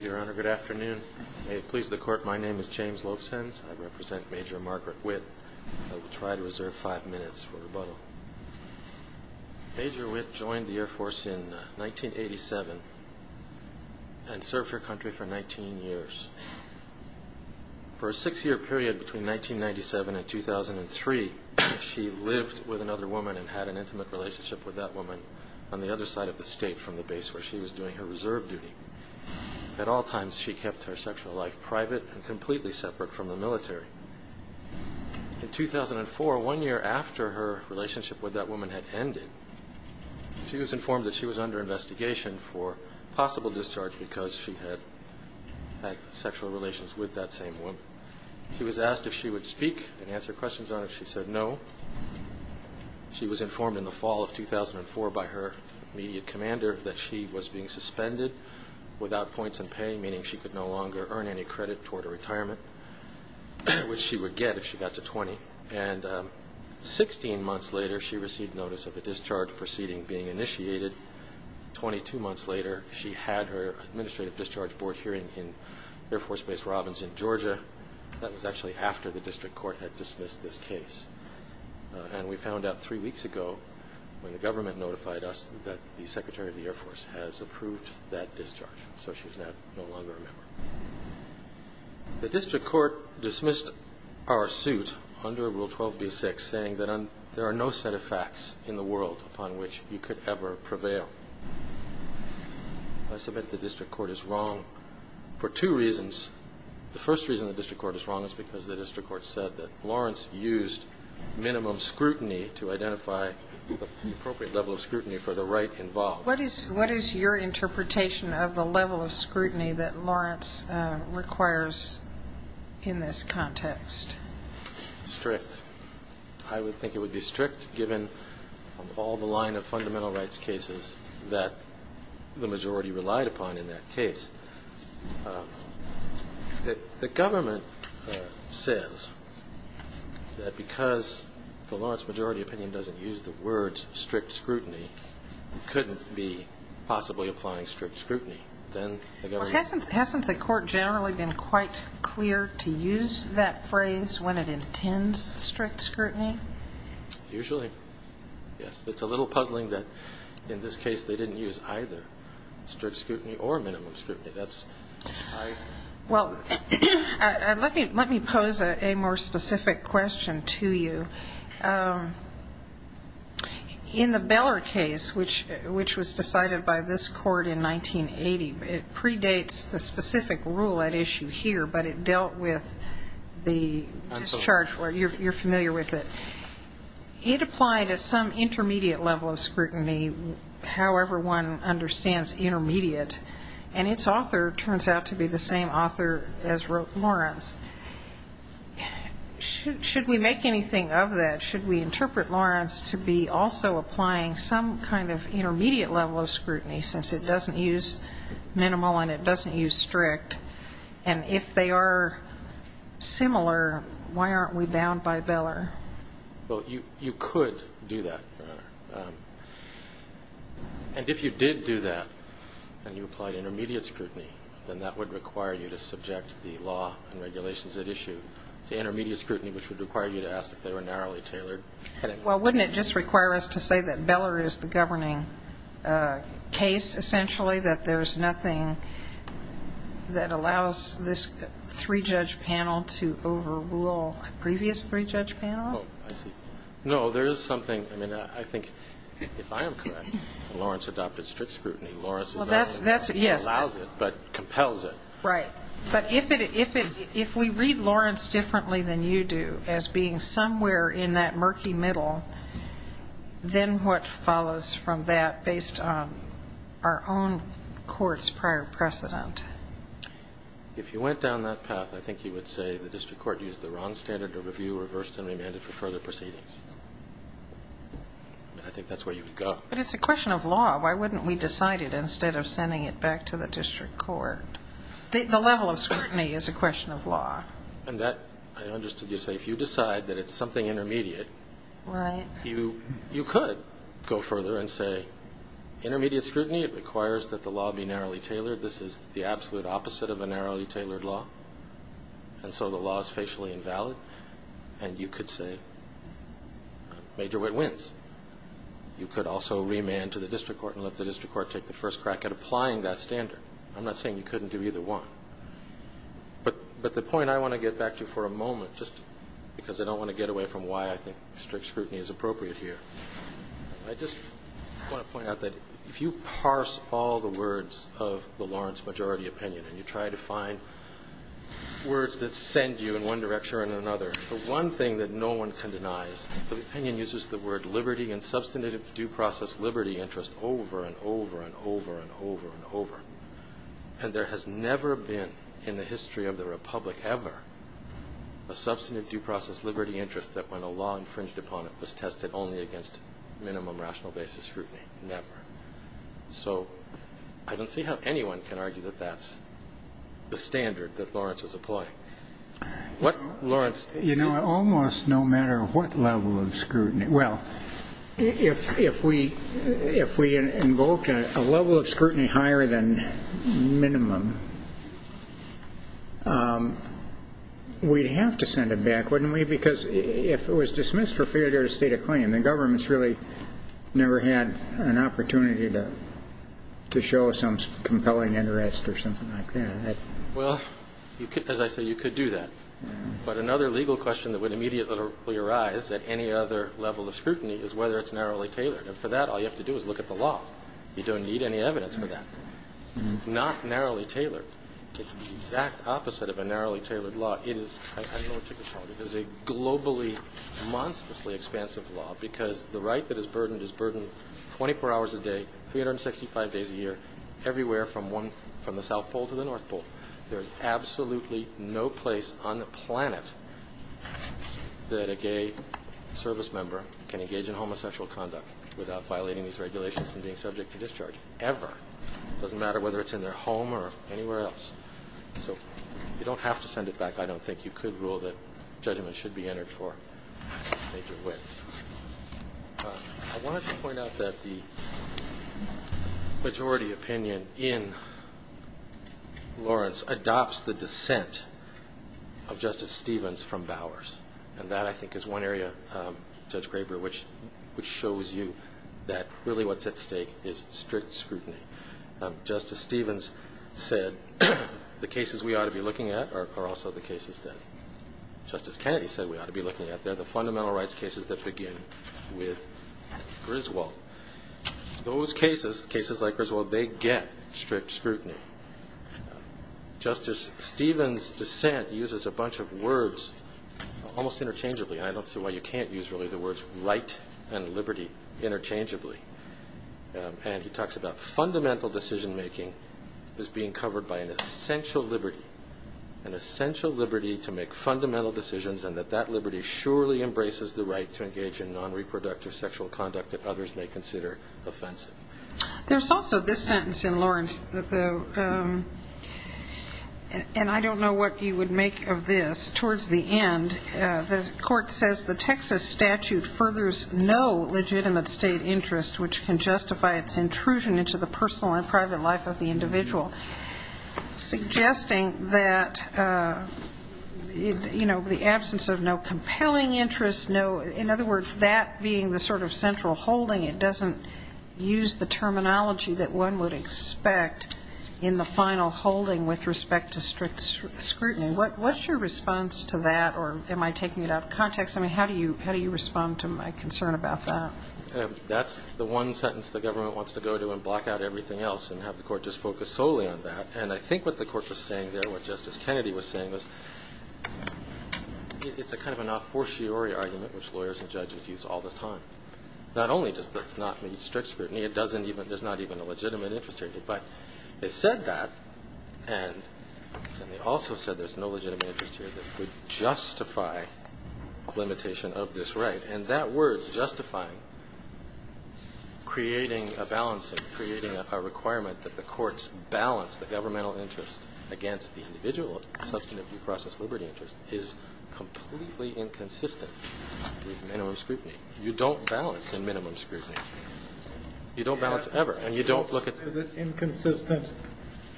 Your Honor, good afternoon. May it please the Court, my name is James Lopesenz. I represent Major Margaret Witt. I will try to reserve five minutes for rebuttal. Major Witt joined the Air Force in 1987 and served her country for 19 years. For a six-year period between 1997 and 2003, she lived with another woman and had an intimate relationship with that woman on the other side of the state from the base where she was doing her reserve duty. At all times, she kept her sexual life private and completely separate from the military. In 2004, one year after her relationship with that woman had ended, she was informed that she was under investigation for possible discharge because she had had sexual relations with that same woman. She was asked if she would speak and answer questions on it. She said no. She was informed in the fall of 2004 by her immediate commander that she was being suspended without points in pay, meaning she could no longer earn any credit toward her retirement, which she would get if she got to 20. And 16 months later, she received notice of a discharge proceeding being initiated. Twenty-two months later, she had her administrative discharge board hearing in Air Force Base Robbins in Georgia. That was actually after the district court had dismissed this case. And we found out three weeks ago when the government notified us that the district court had dismissed our suit under Rule 12.B.6 saying that there are no set of facts in the world upon which you could ever prevail. I submit the district court is wrong for two reasons. The first reason the district court is wrong is because the district court said that Lawrence used minimum scrutiny to identify the appropriate level of scrutiny for the right involved. What is your interpretation of the level of scrutiny that Lawrence requires in this context? Strict. I would think it would be strict given all the line of fundamental rights cases that the majority relied upon in that case. The government says that because the Lawrence majority opinion doesn't use the words strict scrutiny, it couldn't be possibly applying strict scrutiny. Hasn't the court generally been quite clear to use that phrase when it intends strict scrutiny? Usually, yes. It's a little puzzling that in this case they didn't use either strict scrutiny or minimum scrutiny. Let me pose a more specific question to you. In the Beller case, which was decided by this court in 1980, it predates the specific rule at issue here, but it dealt with the discharge. You're familiar with it. It applied at some intermediate level of scrutiny, however one understands intermediate, and its author turns out to be the same author as wrote Lawrence. Should we make anything of that? Should we interpret Lawrence to be also applying some kind of intermediate level of scrutiny, since it doesn't use minimal and it doesn't use strict? If they are similar, why aren't we bound by Beller? You could do that, Your Honor. If you did do that, and you applied intermediate scrutiny, then that would require you to subject the law and regulations at issue to intermediate scrutiny, which would require you to ask if they were narrowly tailored. Well, wouldn't it just require us to say that Beller is the governing case, essentially, that there's nothing that allows this three-judge panel to overrule previous three-judge panel? No, there is something. I mean, I think if I am correct, Lawrence adopted strict scrutiny. Lawrence is not the one that allows it, but compels it. Right. But if we read Lawrence differently than you do, as being somewhere in that murky middle, then what follows from that based on our own court's prior precedent? If you went down that path, I think you would say the district court used the wrong standard of review, reversed and remanded for further proceedings. I think that's where you would go. But it's a question of law. Why wouldn't we decide it instead of sending it back to the district court? The level of scrutiny is a question of law. And that, I understood you to say, if you decide that it's something intermediate, you could go further and say, intermediate scrutiny, it requires that the law be narrowly tailored. This is the absolute opposite of a narrowly tailored law. And so the law is facially invalid. And you could say, major wit wins. You could also remand to the district court and let the district court take the first crack at applying that standard. I'm not saying you couldn't do either one. But the point I want to get back to for a moment, just because I don't want to get away from why I think strict scrutiny is appropriate here, I just want to point out that if you parse all the words of the Lawrence majority opinion and you try to find words that send you in one direction or another, the one thing that no one can deny is that the opinion uses the word liberty and substantive due process liberty interest over and over and over and over and over. And there has never been in the history of the Republic ever a substantive due process liberty interest that when a law infringed upon it was tested only against minimum rational basis scrutiny. Never. So I don't see how anyone can argue that that's the standard that Lawrence is applying. You know, almost no matter what level of scrutiny, well, if we invoke a level of scrutiny higher than minimum, we'd have to send it back, wouldn't we? Because if it was dismissed for failure to state a claim, the government's really never had an opportunity to do that. But another legal question that would immediately arise at any other level of scrutiny is whether it's narrowly tailored. And for that, all you have to do is look at the law. You don't need any evidence for that. It's not narrowly tailored. It's the exact opposite of a narrowly tailored law. It is, I don't know what to call it, it is a globally monstrously expansive law because the right that is burdened is burdened 24 hours a day, 365 days a year, everywhere from the South Pole to the North Pole. There's absolutely no place on the planet that a gay service member can engage in homosexual conduct without violating these regulations and being subject to discharge, ever. It doesn't matter whether it's in their home or anywhere else. So you don't have to send it back. I don't think you could rule that opinion in Lawrence adopts the dissent of Justice Stevens from Bowers. And that I think is one area, Judge Graber, which shows you that really what's at stake is strict scrutiny. Justice Stevens said the cases we ought to be looking at are also the cases that Justice Kennedy said we ought to be looking at. They're the fundamental rights cases that begin with Griswold. Those cases, cases like Griswold, they get strict scrutiny. Justice Stevens' dissent uses a bunch of words almost interchangeably. I don't see why you can't use really the words right and liberty interchangeably. And he talks about fundamental decision making is being covered by an essential liberty, an essential liberty to make fundamental decisions and that that liberty surely embraces the right to engage in non-reproductive sexual conduct that others may consider offensive. There's also this sentence in Lawrence, and I don't know what you would make of this, towards the end, the court says the Texas statute furthers no legitimate state interest, which can justify its intrusion into the personal and private life of the individual, suggesting that, you know, the absence of no compelling interest, no, in other words, that being the sort of central holding, it doesn't use the terminology that one would expect in the final holding with respect to strict scrutiny. What's your response to that, or am I taking it out of context? I mean, how do you respond to my concern about that? That's the one sentence the government wants to go to and block out everything else and have the court just focus solely on that. And I think what the court was saying there, what Justice Kennedy was saying, was it's a kind of an a fortiori argument, which lawyers and judges use all the time. Not only does that not mean strict scrutiny, it doesn't even, there's not even a legitimate interest here. But it said that, and they also said there's no legitimate interest here that would justify limitation of this right. And that word, justifying, creating a balance, creating a requirement that the courts balance the governmental interest against the individual substantive due process liberty interest, is completely inconsistent with minimum scrutiny. You don't balance in minimum scrutiny. You don't balance ever. And you don't look at... Is it inconsistent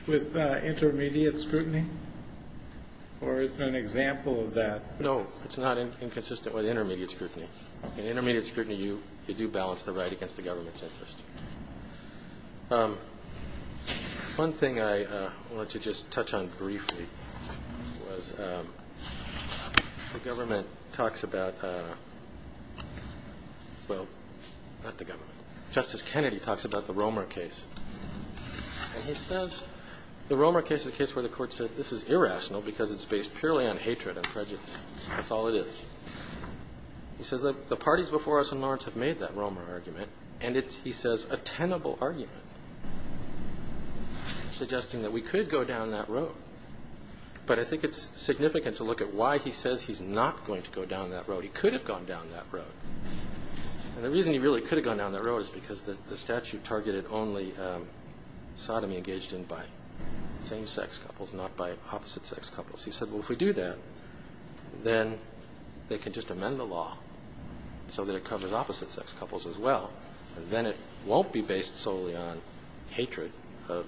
with intermediate scrutiny? Or is it an example of that? No, it's not inconsistent with intermediate scrutiny. In intermediate scrutiny, you do balance the right against the government's interest. One thing I wanted to just touch on briefly was the government talks about, well, not the government, Justice Kennedy talks about the Romer case. And he says the Romer case is a case where the court said this is irrational because it's based purely on hatred and prejudice. That's all it is. He says that the parties before us in Lawrence have made that Romer argument, and it's, he says, a tenable argument, suggesting that we could go down that road. But I think it's significant to look at why he says he's not going to go down that road. He could have gone down that road. And the reason he really could have gone down that road is because the statute targeted only sodomy engaged in by same-sex couples, not by opposite-sex couples. He said, well, if we do that, then they can just amend the law so that it covers opposite-sex couples as well, then it won't be based solely on hatred of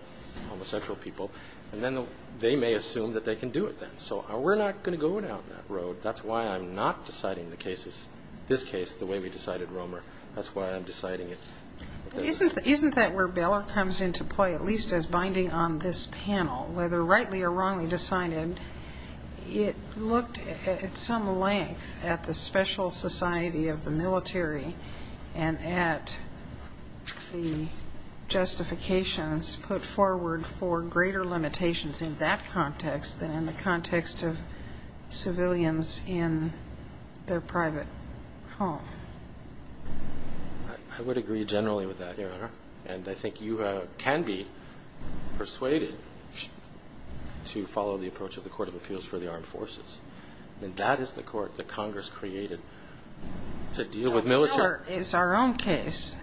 homosexual people, and then they may assume that they can do it then. So we're not going to go down that road. That's why I'm not deciding the cases, this case, the way we decided Romer. That's why I'm deciding it. Isn't that where Beller comes into play, at least as binding on this panel, whether rightly or not, and at the justifications put forward for greater limitations in that context than in the context of civilians in their private home? I would agree generally with that, Your Honor. And I think you can be persuaded to follow the approach of the Court of Appeals for the Armed Forces, and that is the court that Congress created to deal with military... But Beller is our own case,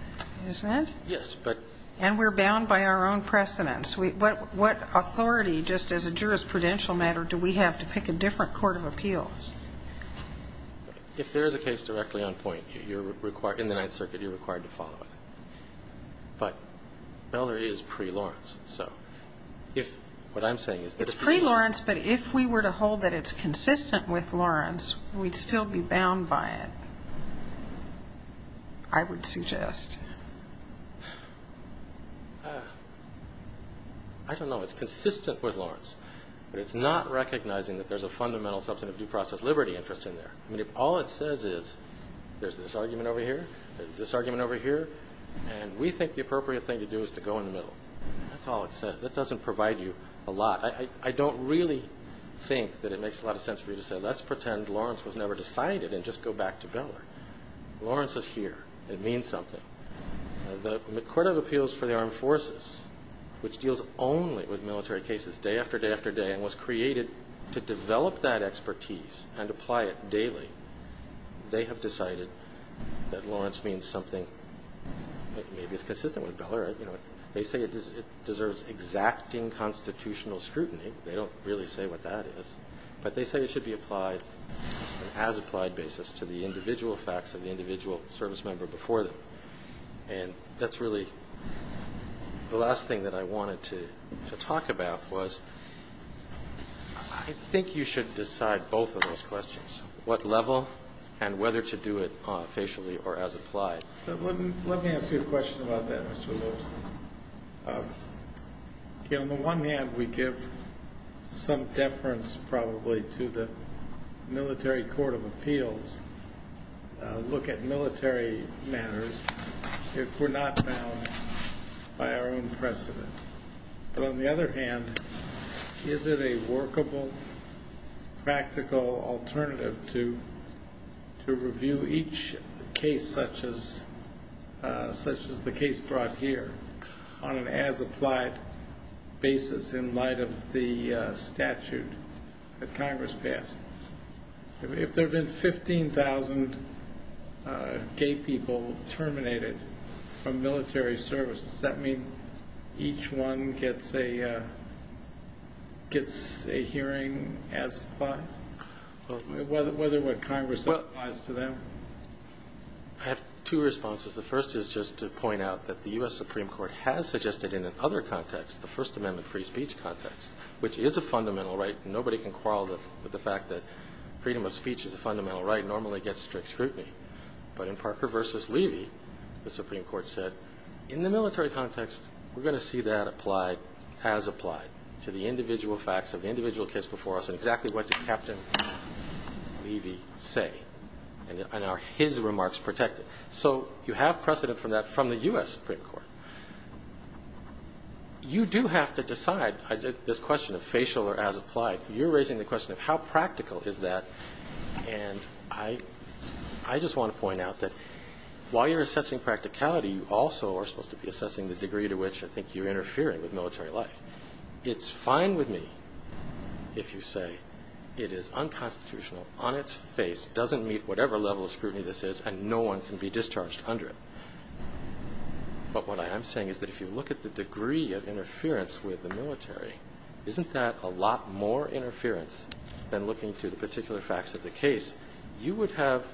isn't it? Yes, but... And we're bound by our own precedents. What authority, just as a jurisprudential matter, do we have to pick a different court of appeals? If there is a case directly on point, in the Ninth Circuit, you're required to follow it. But Beller is pre-Lawrence, so if what I'm saying is that... It's consistent with Lawrence, we'd still be bound by it, I would suggest. I don't know. It's consistent with Lawrence, but it's not recognizing that there's a fundamental substantive due process liberty interest in there. I mean, if all it says is, there's this argument over here, there's this argument over here, and we think the appropriate thing to do is to go in the middle. That's all it says. That doesn't provide you a lot. I don't really think that it makes a lot of sense for you to say, let's pretend Lawrence was never decided and just go back to Beller. Lawrence is here. It means something. The Court of Appeals for the Armed Forces, which deals only with military cases day after day after day, and was created to develop that expertise and apply it daily, they have decided that Lawrence means something that maybe is consistent with Beller. They say it deserves exacting constitutional scrutiny. They don't really say what that is. But they say it should be applied on an as-applied basis to the individual facts of the individual service member before them. And that's really the last thing that I wanted to talk about was, I think you should decide both of those questions, what level and whether to do it versus not. On the one hand, we give some deference probably to the Military Court of Appeals, look at military matters, if we're not bound by our own precedent. But on the other hand, is it a workable, practical alternative to review each case such as the case brought here on an as-applied basis in light of the statute that Congress passed? If there have been 15,000 gay people terminated from military service, does that mean each one gets a hearing as applied? Whether what Congress applies to them? I have two responses. The first is just to point out that the U.S. Supreme Court has suggested in another context, the First Amendment free speech context, which is a fundamental right. Nobody can quarrel with the fact that freedom of speech is a right. But in Parker v. Levy, the Supreme Court said, in the military context, we're going to see that applied, as applied, to the individual facts of the individual case before us and exactly what did Captain Levy say, and are his remarks protected? So you have precedent for that from the U.S. Supreme Court. You do have to decide this question of facial or as applied. You're pointing out that while you're assessing practicality, you also are supposed to be assessing the degree to which I think you're interfering with military life. It's fine with me if you say it is unconstitutional on its face, doesn't meet whatever level of scrutiny this is, and no one can be discharged under it. But what I'm saying is that if you look at the degree of interference with the military, isn't that a lot more interference than looking to the particular facts of the case, you would have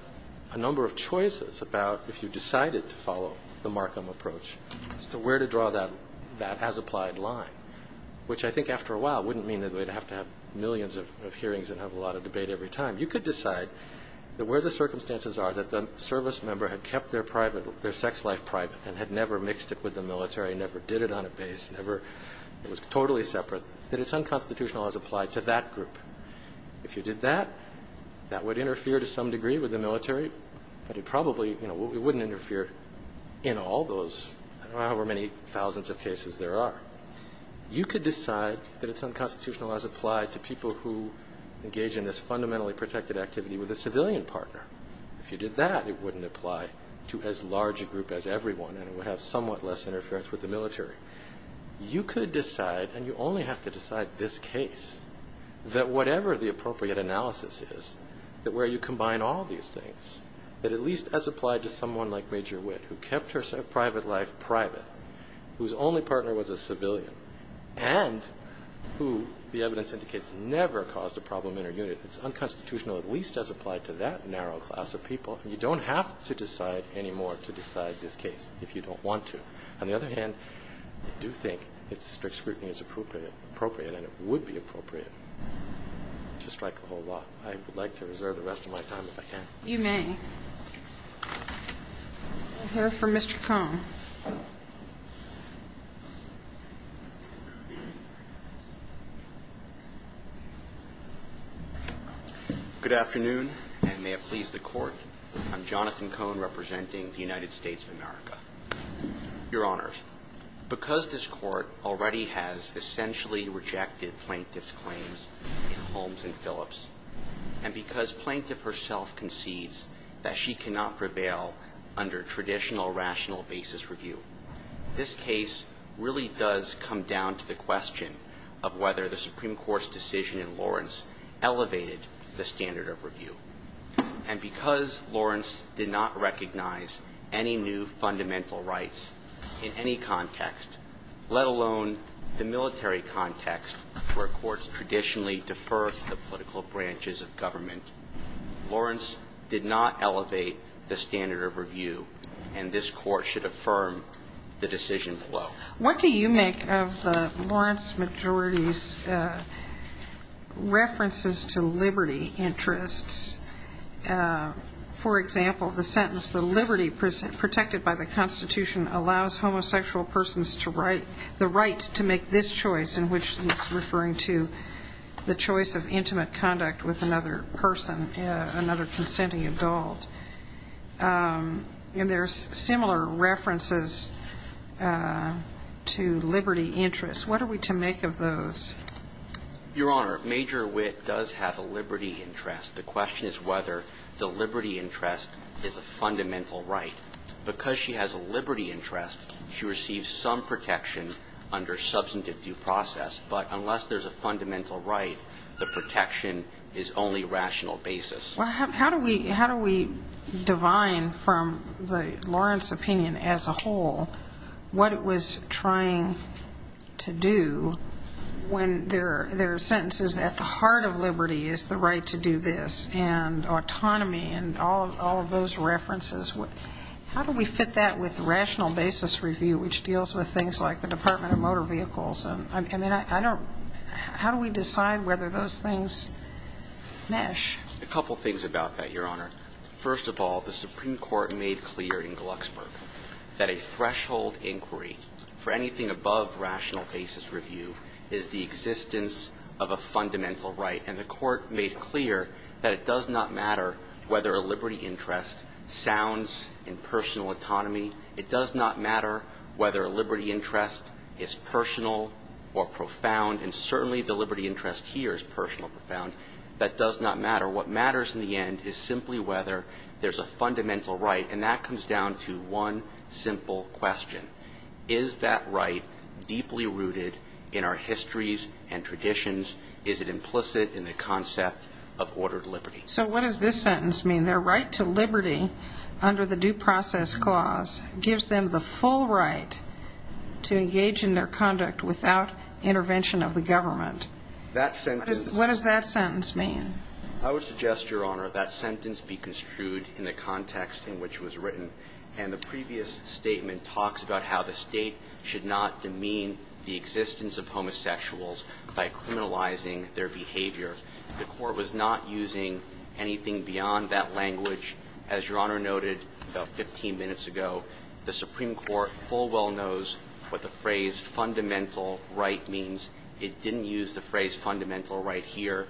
a number of choices about if you decided to follow the Markham approach as to where to draw that as applied line, which I think after a while wouldn't mean that we'd have to have millions of hearings and have a lot of debate every time. You could decide that where the circumstances are that the service member had kept their private, their sex life private, and had never mixed it with the military, never did it on a base, never, it was totally separate, that it's unconstitutional as applied to that group. If you did that, that would interfere to some degree with the military, but it probably, you know, it wouldn't interfere in all those, however many thousands of cases there are. You could decide that it's unconstitutional as applied to people who engage in this fundamentally protected activity with a civilian partner. If you did that, it wouldn't apply to as large a group as everyone and it would have somewhat less interference with the military. You could decide, and you only have to decide this case, that whatever the appropriate analysis is, that where you combine all these things, that at least as applied to someone like Major Witt, who kept her private life private, whose only partner was a civilian, and who the evidence indicates never caused a problem in her unit, it's unconstitutional at least as applied to that narrow class of people. You don't have to decide anymore to decide this case if you don't want to. On the other hand, I do think that strict scrutiny is appropriate and it would be appropriate to strike the whole law. I would like to reserve the rest of my time if I can. You may. I'll hear from Mr. Cohn. Good afternoon and may it please the court. I'm Jonathan Cohn representing the United States of Congress. Your Honor, because this court already has essentially rejected Plaintiff's claims in Holmes and Phillips, and because Plaintiff herself concedes that she cannot prevail under traditional rational basis review, this case really does come down to the question of whether the Supreme Court's decision in Lawrence elevated the standard of review. And because Lawrence did not recognize any new fundamental rights in any context, let alone the military context where courts traditionally defer to the political branches of government, Lawrence did not elevate the standard of review and this court should affirm the decision below. What do you make of the Lawrence majority's liberty interests? For example, the sentence, the liberty protected by the Constitution allows homosexual persons the right to make this choice, in which he's referring to the choice of intimate conduct with another person, another consenting adult. And there's similar references to liberty interests. What are we to make of those? Your Honor, Major Witt does have a liberty interest. The question is whether the liberty interest is a fundamental right. Because she has a liberty interest, she receives some protection under substantive due process, but unless there's a fundamental right, the protection is only rational basis. Well, how do we divine from the Lawrence opinion as a whole what it was trying to do when there are sentences at the heart of liberty is the right to do this and autonomy and all of those references. How do we fit that with rational basis review, which deals with things like the Department of Motor Vehicles? How do we decide whether those things mesh? A couple things about that, Your Honor. First of all, the Supreme Court made clear in Glucksburg that a threshold inquiry for anything above rational basis review is the existence of a fundamental right. And the Court made clear that it does not matter whether a liberty interest sounds in personal autonomy. It does not matter whether a liberty interest is personal or profound, and certainly the liberty interest here is personal or profound. That does not matter. What matters in the end is simply whether there's a fundamental right, and that comes down to one simple question. Is that right deeply rooted in our histories and traditions? Is it implicit in the concept of ordered liberty? So what does this sentence mean? Their right to liberty under the due process clause gives them the full right to engage in their conduct without intervention of the government. What does that sentence mean? I would suggest, Your Honor, that sentence be construed in the context in which it was written. And the previous statement talks about how the State should not demean the existence of homosexuals by criminalizing their behavior. The Court was not using anything beyond that language. As Your Honor noted about 15 minutes ago, the Supreme Court full well knows what the phrase fundamental right means. It didn't use the phrase fundamental right here.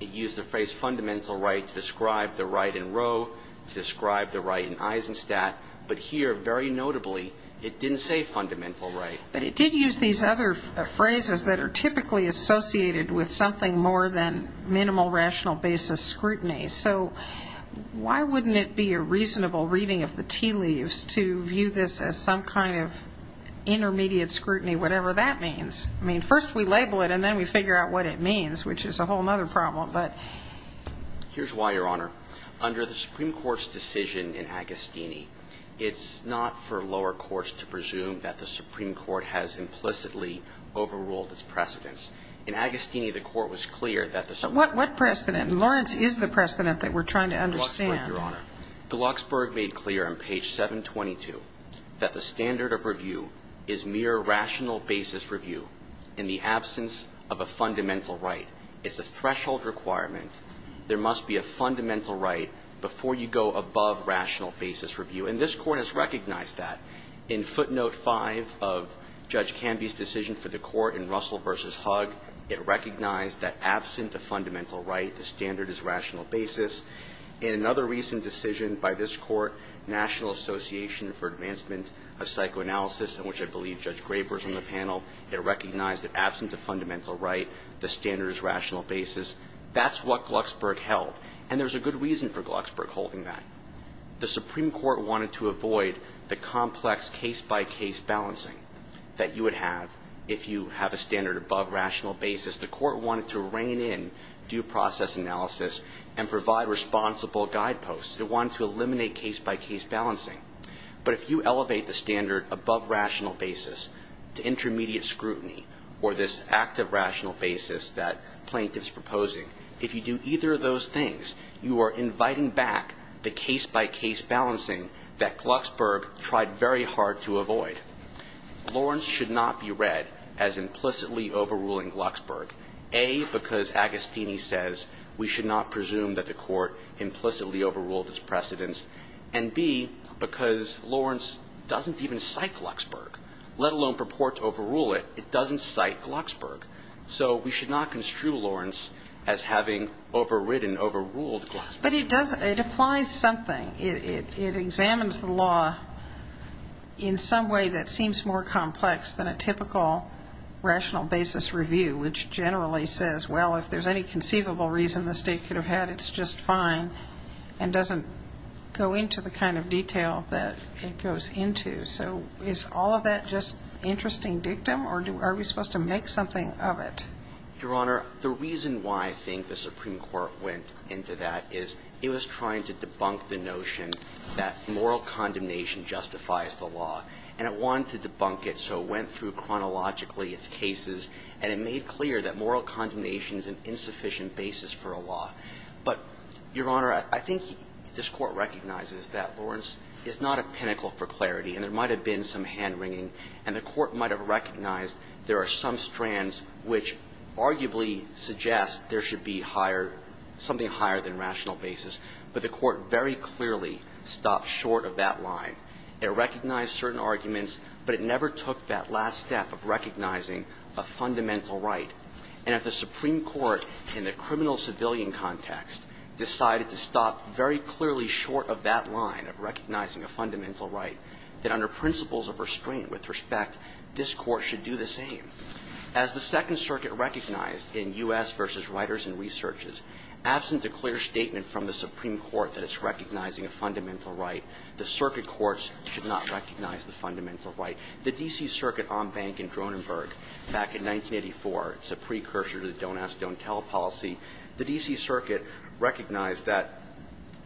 It used the phrase fundamental right to describe the right in Roe, to describe the right in Eisenstadt. But here, very notably, it didn't say fundamental right. But it did use these other phrases that are typically associated with something more than minimal rational basis scrutiny. So why wouldn't it be a reasonable reading of the tea leaves to view this as some kind of intermediate scrutiny, whatever that means? I mean, first we label it, and then we figure out what it means, which is a whole other problem. But here's why, Your Honor. Under the Supreme Court's decision in Agostini, it's not for lower courts to presume that the Supreme Court has implicitly overruled its precedents. In Agostini, the Court was clear that the Supreme Court What precedent? Lawrence is the precedent that we're trying to understand. Your Honor. Glucksberg made clear on page 722 that the standard of review is mere rational basis review in the absence of a fundamental right. It's a threshold requirement. There must be a fundamental right before you go above rational basis review. And this Court has recognized that. In footnote 5 of Judge Canby's decision for the Court in Russell v. Hug, it recognized that And there's a good reason for Glucksberg holding that. The Supreme Court wanted to avoid the complex case-by-case balancing that you would have if you have a standard above rational basis. The Court wanted to rein in due process analysis and provide responsible guideposts. It wanted to eliminate case-by-case balancing. But if you elevate the standard above rational basis to intermediate scrutiny or this active rational basis that plaintiff's proposing, if you do either of those things, you are inviting back the case-by-case balancing that Glucksberg tried very hard to avoid. Lawrence should not be read as implicitly overruling Glucksberg, A, because Agostini says we should not presume that the Court implicitly overruled its precedents, and B, because Lawrence doesn't even cite Glucksberg, let alone purport to overrule it. It doesn't cite Glucksberg. So we should not construe Lawrence as having overridden, overruled Glucksberg. But it applies something. It examines the law in some way that seems more complex than a typical rational basis review, which generally says, well, if there's any conceivable reason the State could have had, it's just fine, and doesn't go into the kind of detail that it goes into. So is all of that just interesting dictum, or are we supposed to make something of it? Your Honor, the reason why I think the Supreme Court went into that is it was trying to debunk the notion that moral condemnation justifies the law. And it wanted to debunk it, so it went through chronologically its cases, and it made clear that moral condemnation is an insufficient basis for a law. But, Your Honor, I think this Court recognizes that Lawrence is not a pinnacle for clarity, and there might have been some hand-wringing, and the Court might have recognized there are some arguments that arguably suggest there should be higher – something higher than rational basis, but the Court very clearly stopped short of that line. It recognized certain arguments, but it never took that last step of recognizing a fundamental right. And if the Supreme Court, in the criminal-civilian context, decided to stop very clearly short of that line of recognizing a fundamental right, then under principles of restraint with respect, this Court should do the same. As the Second Circuit recognized in U.S. v. Writers and Researches, absent a clear statement from the Supreme Court that it's recognizing a fundamental right, the circuit courts should not recognize the fundamental right. The D.C. Circuit en banc in Dronenberg back in 1984, it's a precursor to the don't-ask-don't-tell policy. The D.C. Circuit recognized that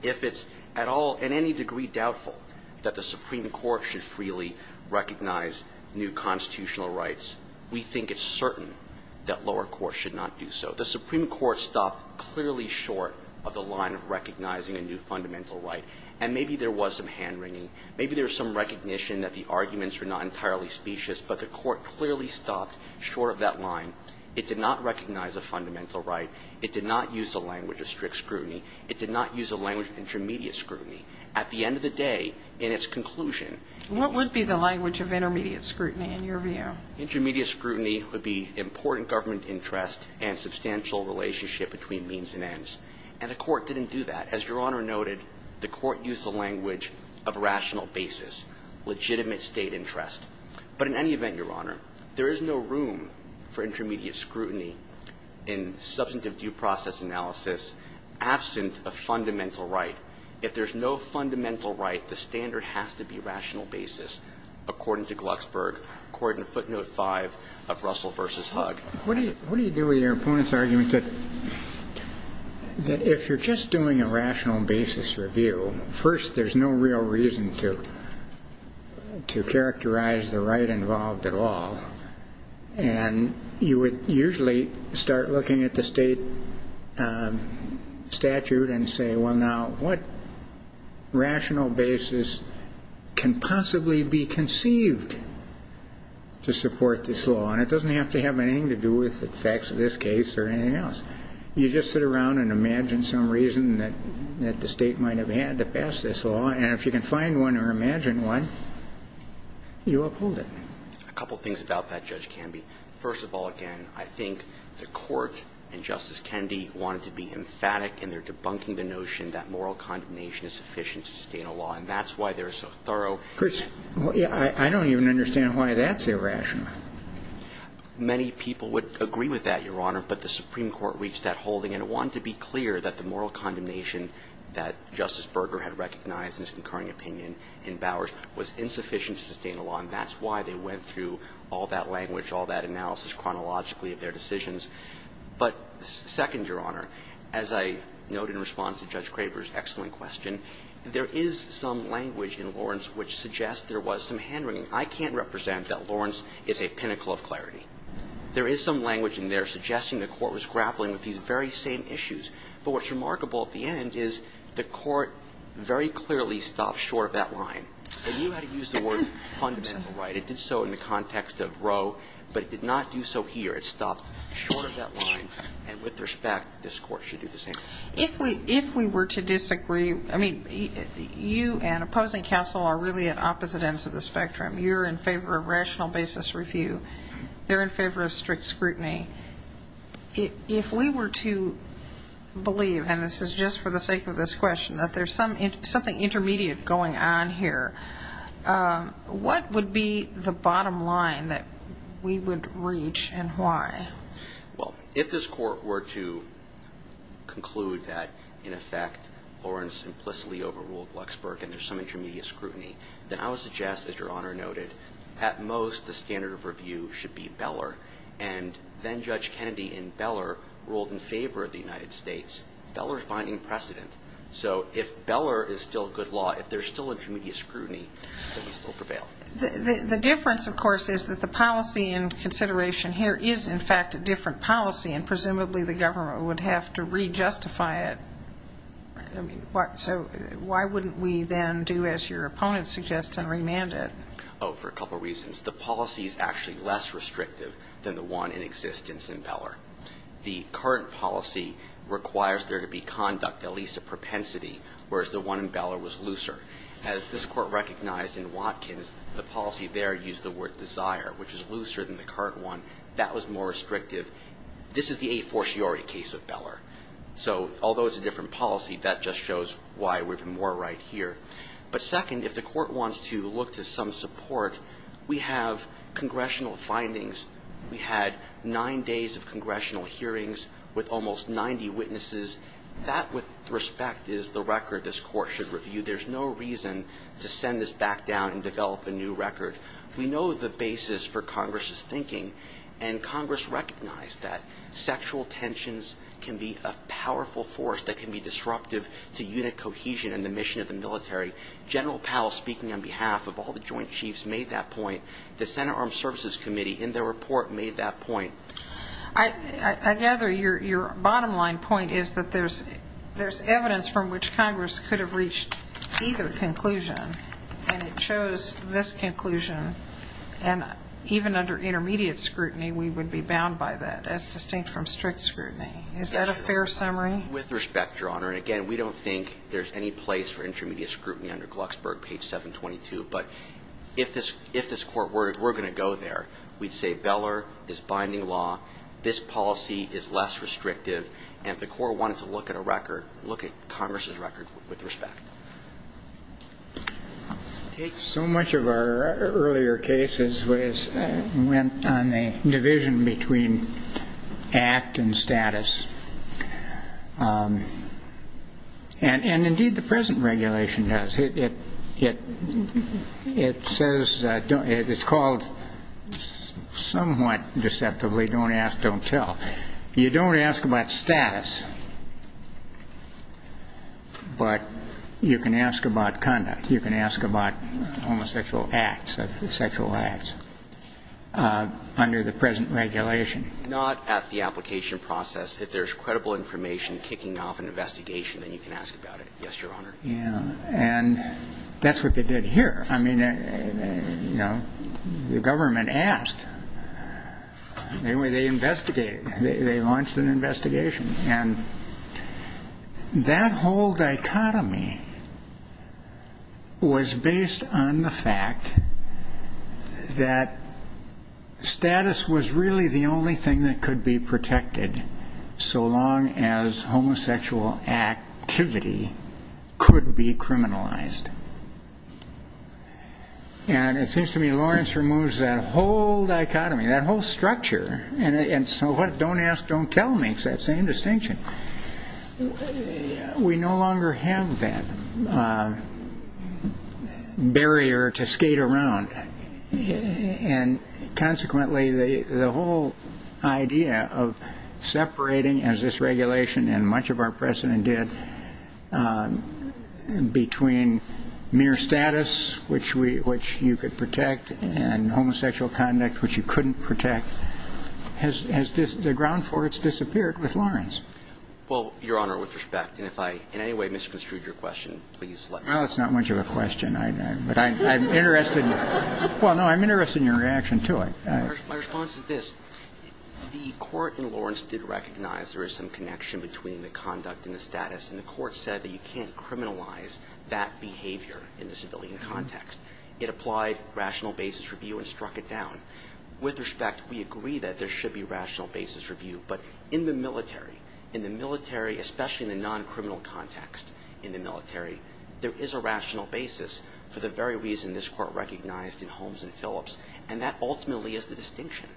if it's at all, in any degree, doubtful that the we think it's certain that lower courts should not do so. The Supreme Court stopped clearly short of the line of recognizing a new fundamental right. And maybe there was some hand-wringing. Maybe there was some recognition that the arguments were not entirely specious, but the Court clearly stopped short of that line. It did not recognize a fundamental right. It did not use the language of strict scrutiny. It did not use the language of intermediate scrutiny. At the end of the day, in its conclusion – What would be the language of intermediate scrutiny, in your view? Intermediate scrutiny would be important government interest and substantial relationship between means and ends. And the Court didn't do that. As Your Honor noted, the Court used the language of rational basis, legitimate state interest. But in any event, Your Honor, there is no room for intermediate scrutiny in substantive due process analysis absent a fundamental right. If there's no fundamental right, the standard has to be rational basis, according to Glucksberg, according to footnote 5 of Russell v. Hugg. What do you do with your opponent's argument that if you're just doing a rational basis review, first there's no real reason to characterize the right involved at all? And you would usually start looking at the state statute and say, well, now what rational basis can possibly be conceived to support this law? And it doesn't have to have anything to do with the facts of this case or anything else. You just sit around and imagine some reason that the state might have had to pass this law. And if you can find one or imagine one, you uphold it. A couple things about that, Judge Canby. First of all, again, I think the Court and Justice Kennedy wanted to be emphatic, and they're debunking the notion that moral condemnation is sufficient to sustain a law. And that's why they're so thorough. Chris, I don't even understand why that's irrational. Many people would agree with that, Your Honor, but the Supreme Court reached that holding, and it wanted to be clear that the moral condemnation that Justice Berger had recognized in his concurring opinion in Bowers was insufficient to sustain a law. And that's why they went through all that language, all that analysis chronologically of their decisions. But second, Your Honor, as I note in response to Judge Craver's excellent question, there is some language in Lawrence which suggests there was some hand-wringing. I can't represent that Lawrence is a pinnacle of clarity. There is some language in there suggesting the Court was grappling with these very same issues. But what's remarkable at the end is the Court very clearly stopped short of that line. And you had to use the word fundamental right. It did so in the context of Roe, but it did not do so here. It stopped short of that line. And with respect, this Court should do the same. If we were to disagree, I mean, you and opposing counsel are really at opposite ends of the spectrum. You're in favor of rational basis review. They're in favor of strict scrutiny. If we were to believe, and this is just for the sake of this question, that there's something intermediate going on here, what would be the bottom line that we would reach and why? Well, if this Court were to conclude that, in effect, Lawrence implicitly overruled Luxburg and there's some intermediate scrutiny, then I would suggest, as Your Honor noted, at most the standard of review should be Beller. And then Judge Kennedy in Beller ruled in favor of the United States. Beller is binding precedent. So if Beller is still good law, if there's still intermediate scrutiny, then we still prevail. The difference, of course, is that the policy in consideration here is, in fact, a different policy and presumably the government would have to re-justify it. So why wouldn't we then do, as your opponent suggests, and remand it? Oh, for a couple reasons. The policy is actually less restrictive than the one in existence in Beller. The current policy requires there to be conduct, at least a propensity, whereas the one in Beller was looser. As this Court recognized in Watkins, the policy there used the word desire, which is looser than the current one. That was more restrictive. This is the a fortiori case of Beller. So although it's a different policy, that just shows why we're more right here. But second, if the Court wants to look to some support, we have congressional findings. We had nine days of congressional hearings with almost 90 witnesses. That, with respect, is the record this Court should review. There's no reason to send this back down and develop a new record. We know the basis for Congress's thinking, and Congress recognized that sexual tensions can be a powerful force that can be disruptive to unit cohesion and the mission of the military. General Powell, speaking on behalf of all the Joint Chiefs, made that point. The Senate Armed Services Committee, in their report, made that point. I gather your bottom line point is that there's evidence from which Congress could have reached either conclusion, and it shows this conclusion. And even under intermediate scrutiny, we would be bound by that, as distinct from strict scrutiny. Is that a fair summary? With respect, Your Honor, and again, we don't think there's any place for intermediate scrutiny under Glucksberg, page 722. But if this Court were going to go there, we'd say Beller is binding law. This policy is less restrictive. And if the Court wanted to look at a record, look at Congress's record with respect. So much of our earlier cases went on the division between act and status. And indeed, the present regulation does. It says, it's called somewhat deceptively, don't ask, don't tell. You don't ask about status, but you can ask about conduct. You can ask about homosexual acts, sexual acts, under the present regulation. Not at the application process. If there's credible information kicking off an investigation, then you can ask about it. Yes, Your Honor. And that's what they did here. I mean, you know, the government asked. Anyway, they investigated. They launched an investigation. And that whole dichotomy was based on the fact that status was really the only thing that could be protected, so long as homosexual activity could be criminalized. And it seems to me Lawrence removes that whole dichotomy, that whole structure. And so what don't ask, don't tell makes that same distinction. We no longer have that barrier to skate around. And consequently, the issue is that we have the whole idea of separating, as this regulation and much of our precedent did, between mere status, which you could protect, and homosexual conduct, which you couldn't protect. The ground for it has disappeared with Lawrence. Well, Your Honor, with respect, and if I in any way misconstrued your question, please let me know. Well, it's not much of a question. But I'm interested. Well, no, I'm interested in your reaction to it. My response is this. The court in Lawrence did recognize there is some connection between the conduct and the status. And the court said that you can't criminalize that behavior in the civilian context. It applied rational basis review and struck it down. With respect, we agree that there should be rational basis review. But in the military, in the military, especially in the non-criminal context in the military, there is a rational basis for the very reason this Court recognized in Holmes and Phillips. And that ultimately is the distinction.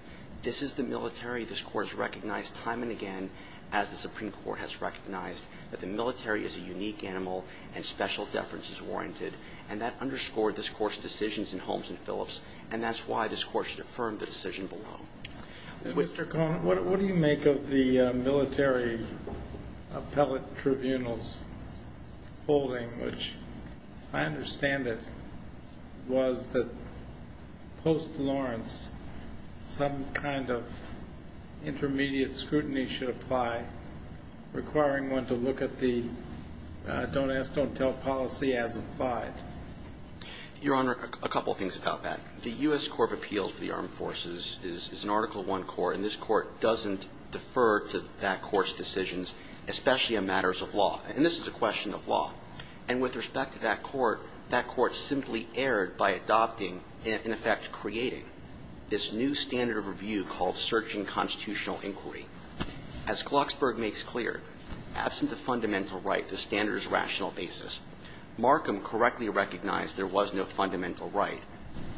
This is the military. This Court has recognized time and again, as the Supreme Court has recognized, that the military is a unique animal and special deference is warranted. And that underscored this Court's decisions in Holmes and Phillips. And that's why this Court should affirm the decision below. Mr. Conant, what do you make of the military appellate tribunal's holding, which I understand it was that post-Lawrence, some kind of intermediate scrutiny should apply, requiring one to look at the don't ask, don't tell policy as applied? Your Honor, a couple of things about that. The U.S. Court of Appeals for the Armed Forces is an Article I court. And this court doesn't defer to that court's decisions, especially on matters of law. And this is a question of law. And with respect to that court, that court simply erred by adopting and, in effect, creating this new standard of review called searching constitutional inquiry. As Glucksberg makes clear, absent a fundamental right, the standard is rational basis. Markham correctly recognized there was no fundamental right,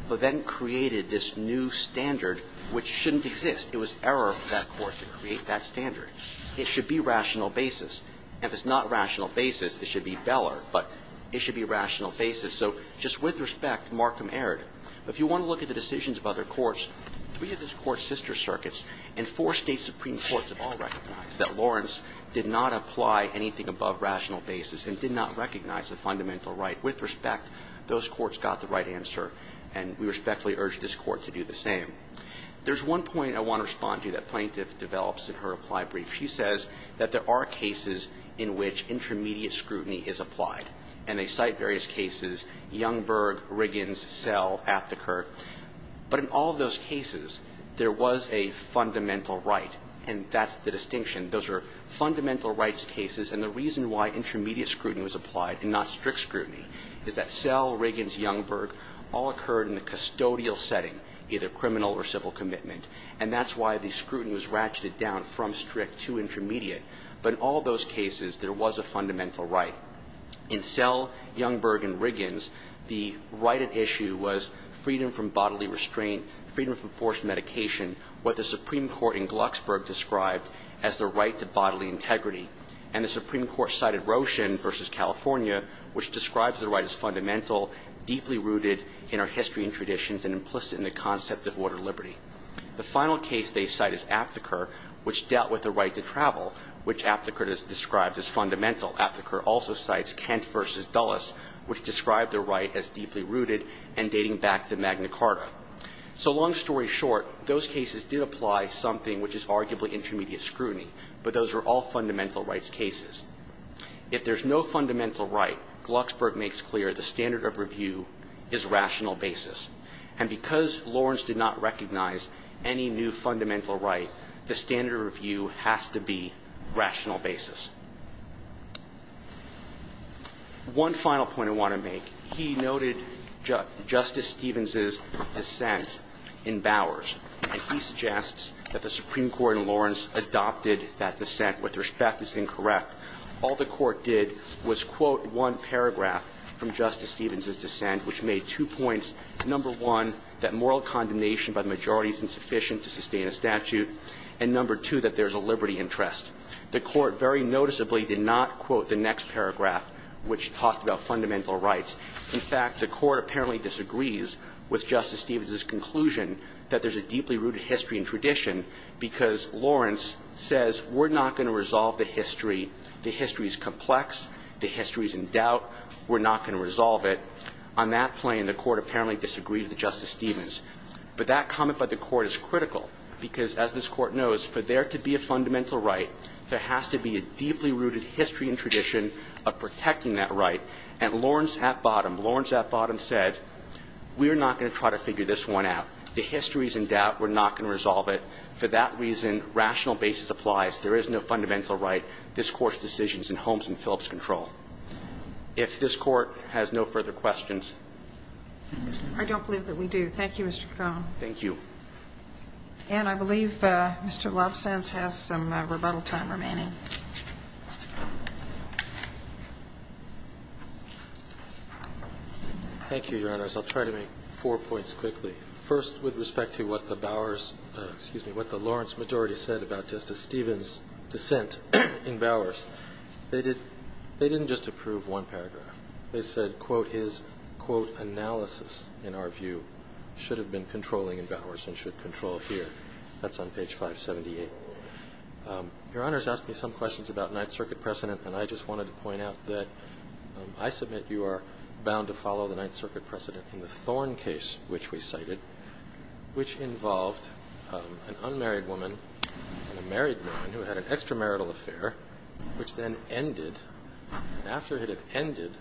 but then created this new standard which shouldn't exist. It was error of that court to create that standard. It should be if it's not rational basis, it should be Beller, but it should be rational basis. So just with respect, Markham erred. If you want to look at the decisions of other courts, three of this Court's sister circuits and four State supreme courts have all recognized that Lawrence did not apply anything above rational basis and did not recognize a fundamental right. With respect, those courts got the right answer, and we respectfully urge this Court to do the same. There's one point I want to respond to that Plaintiff develops in her reply brief. She says that there are cases in which intermediate scrutiny is applied. And they cite various cases, Youngberg, Riggins, Selle, Apteker. But in all of those cases, there was a fundamental right, and that's the distinction. Those are fundamental rights cases, and the reason why intermediate scrutiny was applied and not strict scrutiny is that Selle, Riggins, Youngberg all occurred in the custodial setting, either criminal or civil commitment, and that's why the scrutiny was ratcheted down from strict to intermediate. But in all those cases, there was a fundamental right. In Selle, Youngberg, and Riggins, the right at issue was freedom from bodily restraint, freedom from forced medication, what the Supreme Court in Glucksburg described as the right to bodily integrity. And the Supreme Court cited Roshin v. California, which describes the right as fundamental, deeply rooted in our history and traditions, and implicit in the concept of order and liberty. The final case they cite is Apteker, which dealt with the right to travel, which Apteker described as fundamental. Apteker also cites Kent v. Dulles, which described the right as deeply rooted and dating back to Magna Carta. So long story short, those cases did apply something which is arguably intermediate scrutiny, but those are all fundamental rights cases. If there's no fundamental right, Glucksburg makes clear the standard of review is rational basis. And because Lawrence did not recognize any new fundamental right, the standard of review has to be rational basis. One final point I want to make. He noted Justice Stevens' dissent in Bowers, and he suggests that the Supreme Court in Lawrence adopted that dissent with respect as incorrect. All the court did was quote one paragraph from Justice Stevens' dissent, which made two points, number one, that moral condemnation by the majority is insufficient to sustain a statute, and number two, that there's a liberty interest. The Court very noticeably did not quote the next paragraph, which talked about fundamental rights. In fact, the Court apparently disagrees with Justice Stevens' conclusion that there's a deeply rooted history and tradition, because Lawrence says we're not going to resolve the history. The history is complex. The history is in doubt. We're not going to resolve it. On that plane, the Court apparently disagreed with Justice Stevens. But that comment by the Court is critical, because as this Court knows, for there to be a fundamental right, there has to be a deeply rooted history and tradition of protecting that right. And Lawrence at bottom, Lawrence at bottom said we're not going to try to figure this one out. The history is in doubt. We're not going to resolve it. For that reason, rational basis applies. There is no fundamental right. This Court's decision is in Holmes and Phillips' control. If this Court has no further questions. I don't believe that we do. Thank you, Mr. Cohn. Thank you. And I believe Mr. Lobsance has some rebuttal time remaining. Thank you, Your Honors. I'll try to make four points quickly. First, with respect to what the Bowers, excuse me, what the Lawrence majority said about Justice Stevens' dissent in Bowers, they didn't just approve one paragraph. They said, quote, his, quote, analysis, in our view, should have been controlling in Bowers and should control here. That's on page 578. Your Honors asked me some questions about Ninth Circuit precedent, and I just wanted to point out that I submit you are bound to follow the Ninth Circuit precedent in the Thorn case, which we cited, which involved an unmarried woman and a married woman who had an extramarital affair, which then ended. After it had ended,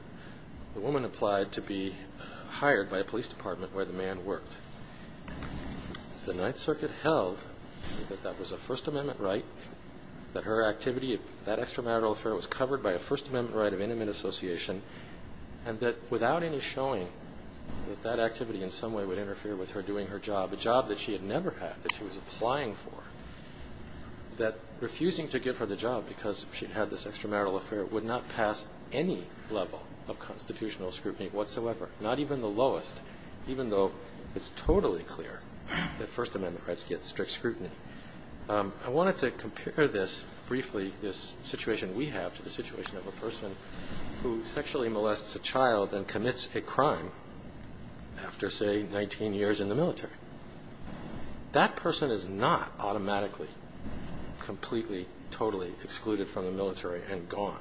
the woman applied to be hired by a police department where the man worked. The Ninth Circuit held that that was a First Amendment right, that her activity, that extramarital affair was covered by a First Amendment right of intimate association, and that without any showing that that activity in some way would interfere with her doing her job, a job that she had never had, that she was applying for, that refusing to give her the job because she had this extramarital affair would not pass any level of constitutional scrutiny whatsoever, not even the lowest, even though it's totally clear that First Amendment rights get strict scrutiny. I wanted to compare this briefly, this person who sexually molests a child and commits a crime after, say, 19 years in the military. That person is not automatically, completely, totally excluded from the military and gone.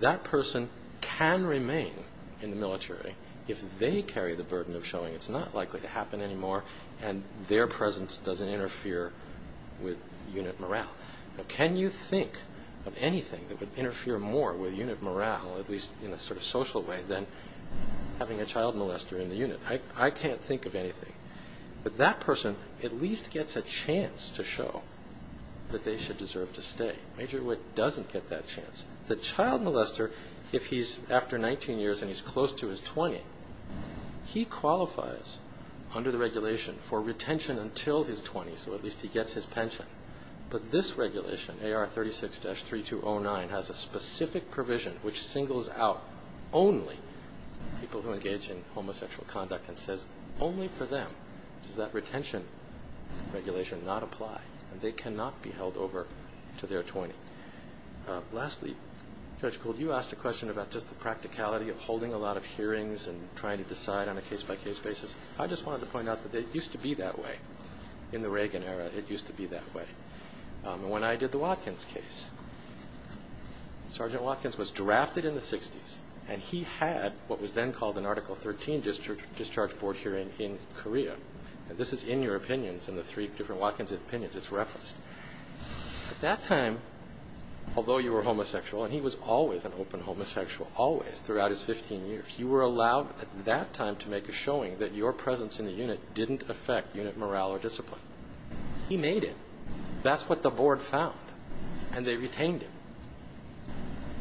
That person can remain in the military if they carry the burden of showing it's not likely to happen anymore and their presence doesn't interfere with unit morale. Now, can you think of anything that would interfere more with unit morale, at least in a sort of social way, than having a child molester in the unit? I can't think of anything. But that person at least gets a chance to show that they should deserve to stay. Major Witt doesn't get that chance. The child molester, if he's after 19 years and he's close to his 20, he qualifies under the regulation for retention until his 20, so at least he gets his pension. But this regulation, AR 36-3209, has a specific provision which singles out only people who engage in homosexual conduct and says only for them does that retention regulation not apply and they cannot be held over to their 20. Lastly, Judge Gould, you asked a question about just the practicality of holding a lot of hearings and trying to decide on a case-by-case basis. I just wanted to point out that it used to be that way in the Reagan era. It used to be that way. When I did the Watkins case, Sergeant Watkins was drafted in the 60s and he had what was then called an Article 13 discharge board hearing in Korea. This is in your opinions, in the three different Watkins opinions, it's referenced. At that time, although you were homosexual, and he was always an open homosexual, always throughout his 15 years, you were allowed at that time to make a showing that your presence in the unit didn't affect unit morale or discipline. He made it. That's what the board found and they retained him.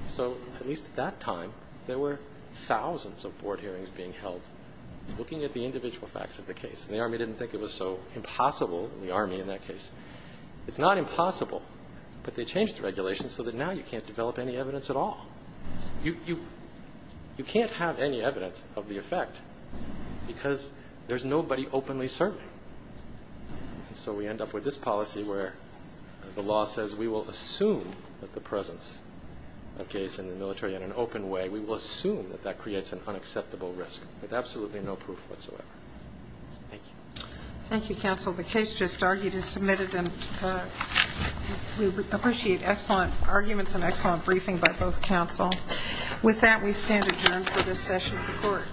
So at least at that time, there were thousands of board hearings being held looking at the individual facts of the case and the Army didn't think it was so impossible, the Army in that case. It's not impossible, but they changed the regulation so that now you can't develop any evidence at all. You can't have any evidence of the effect because there's nobody openly serving. So we end up with this policy where the law says we will assume that the presence of case in the military in an open way, we will assume that that creates an unacceptable risk with absolutely no proof whatsoever. Thank you. Thank you, Counsel. The case just argued is submitted and we appreciate excellent arguments and excellent briefing by both counsel. With that, we move to the session report.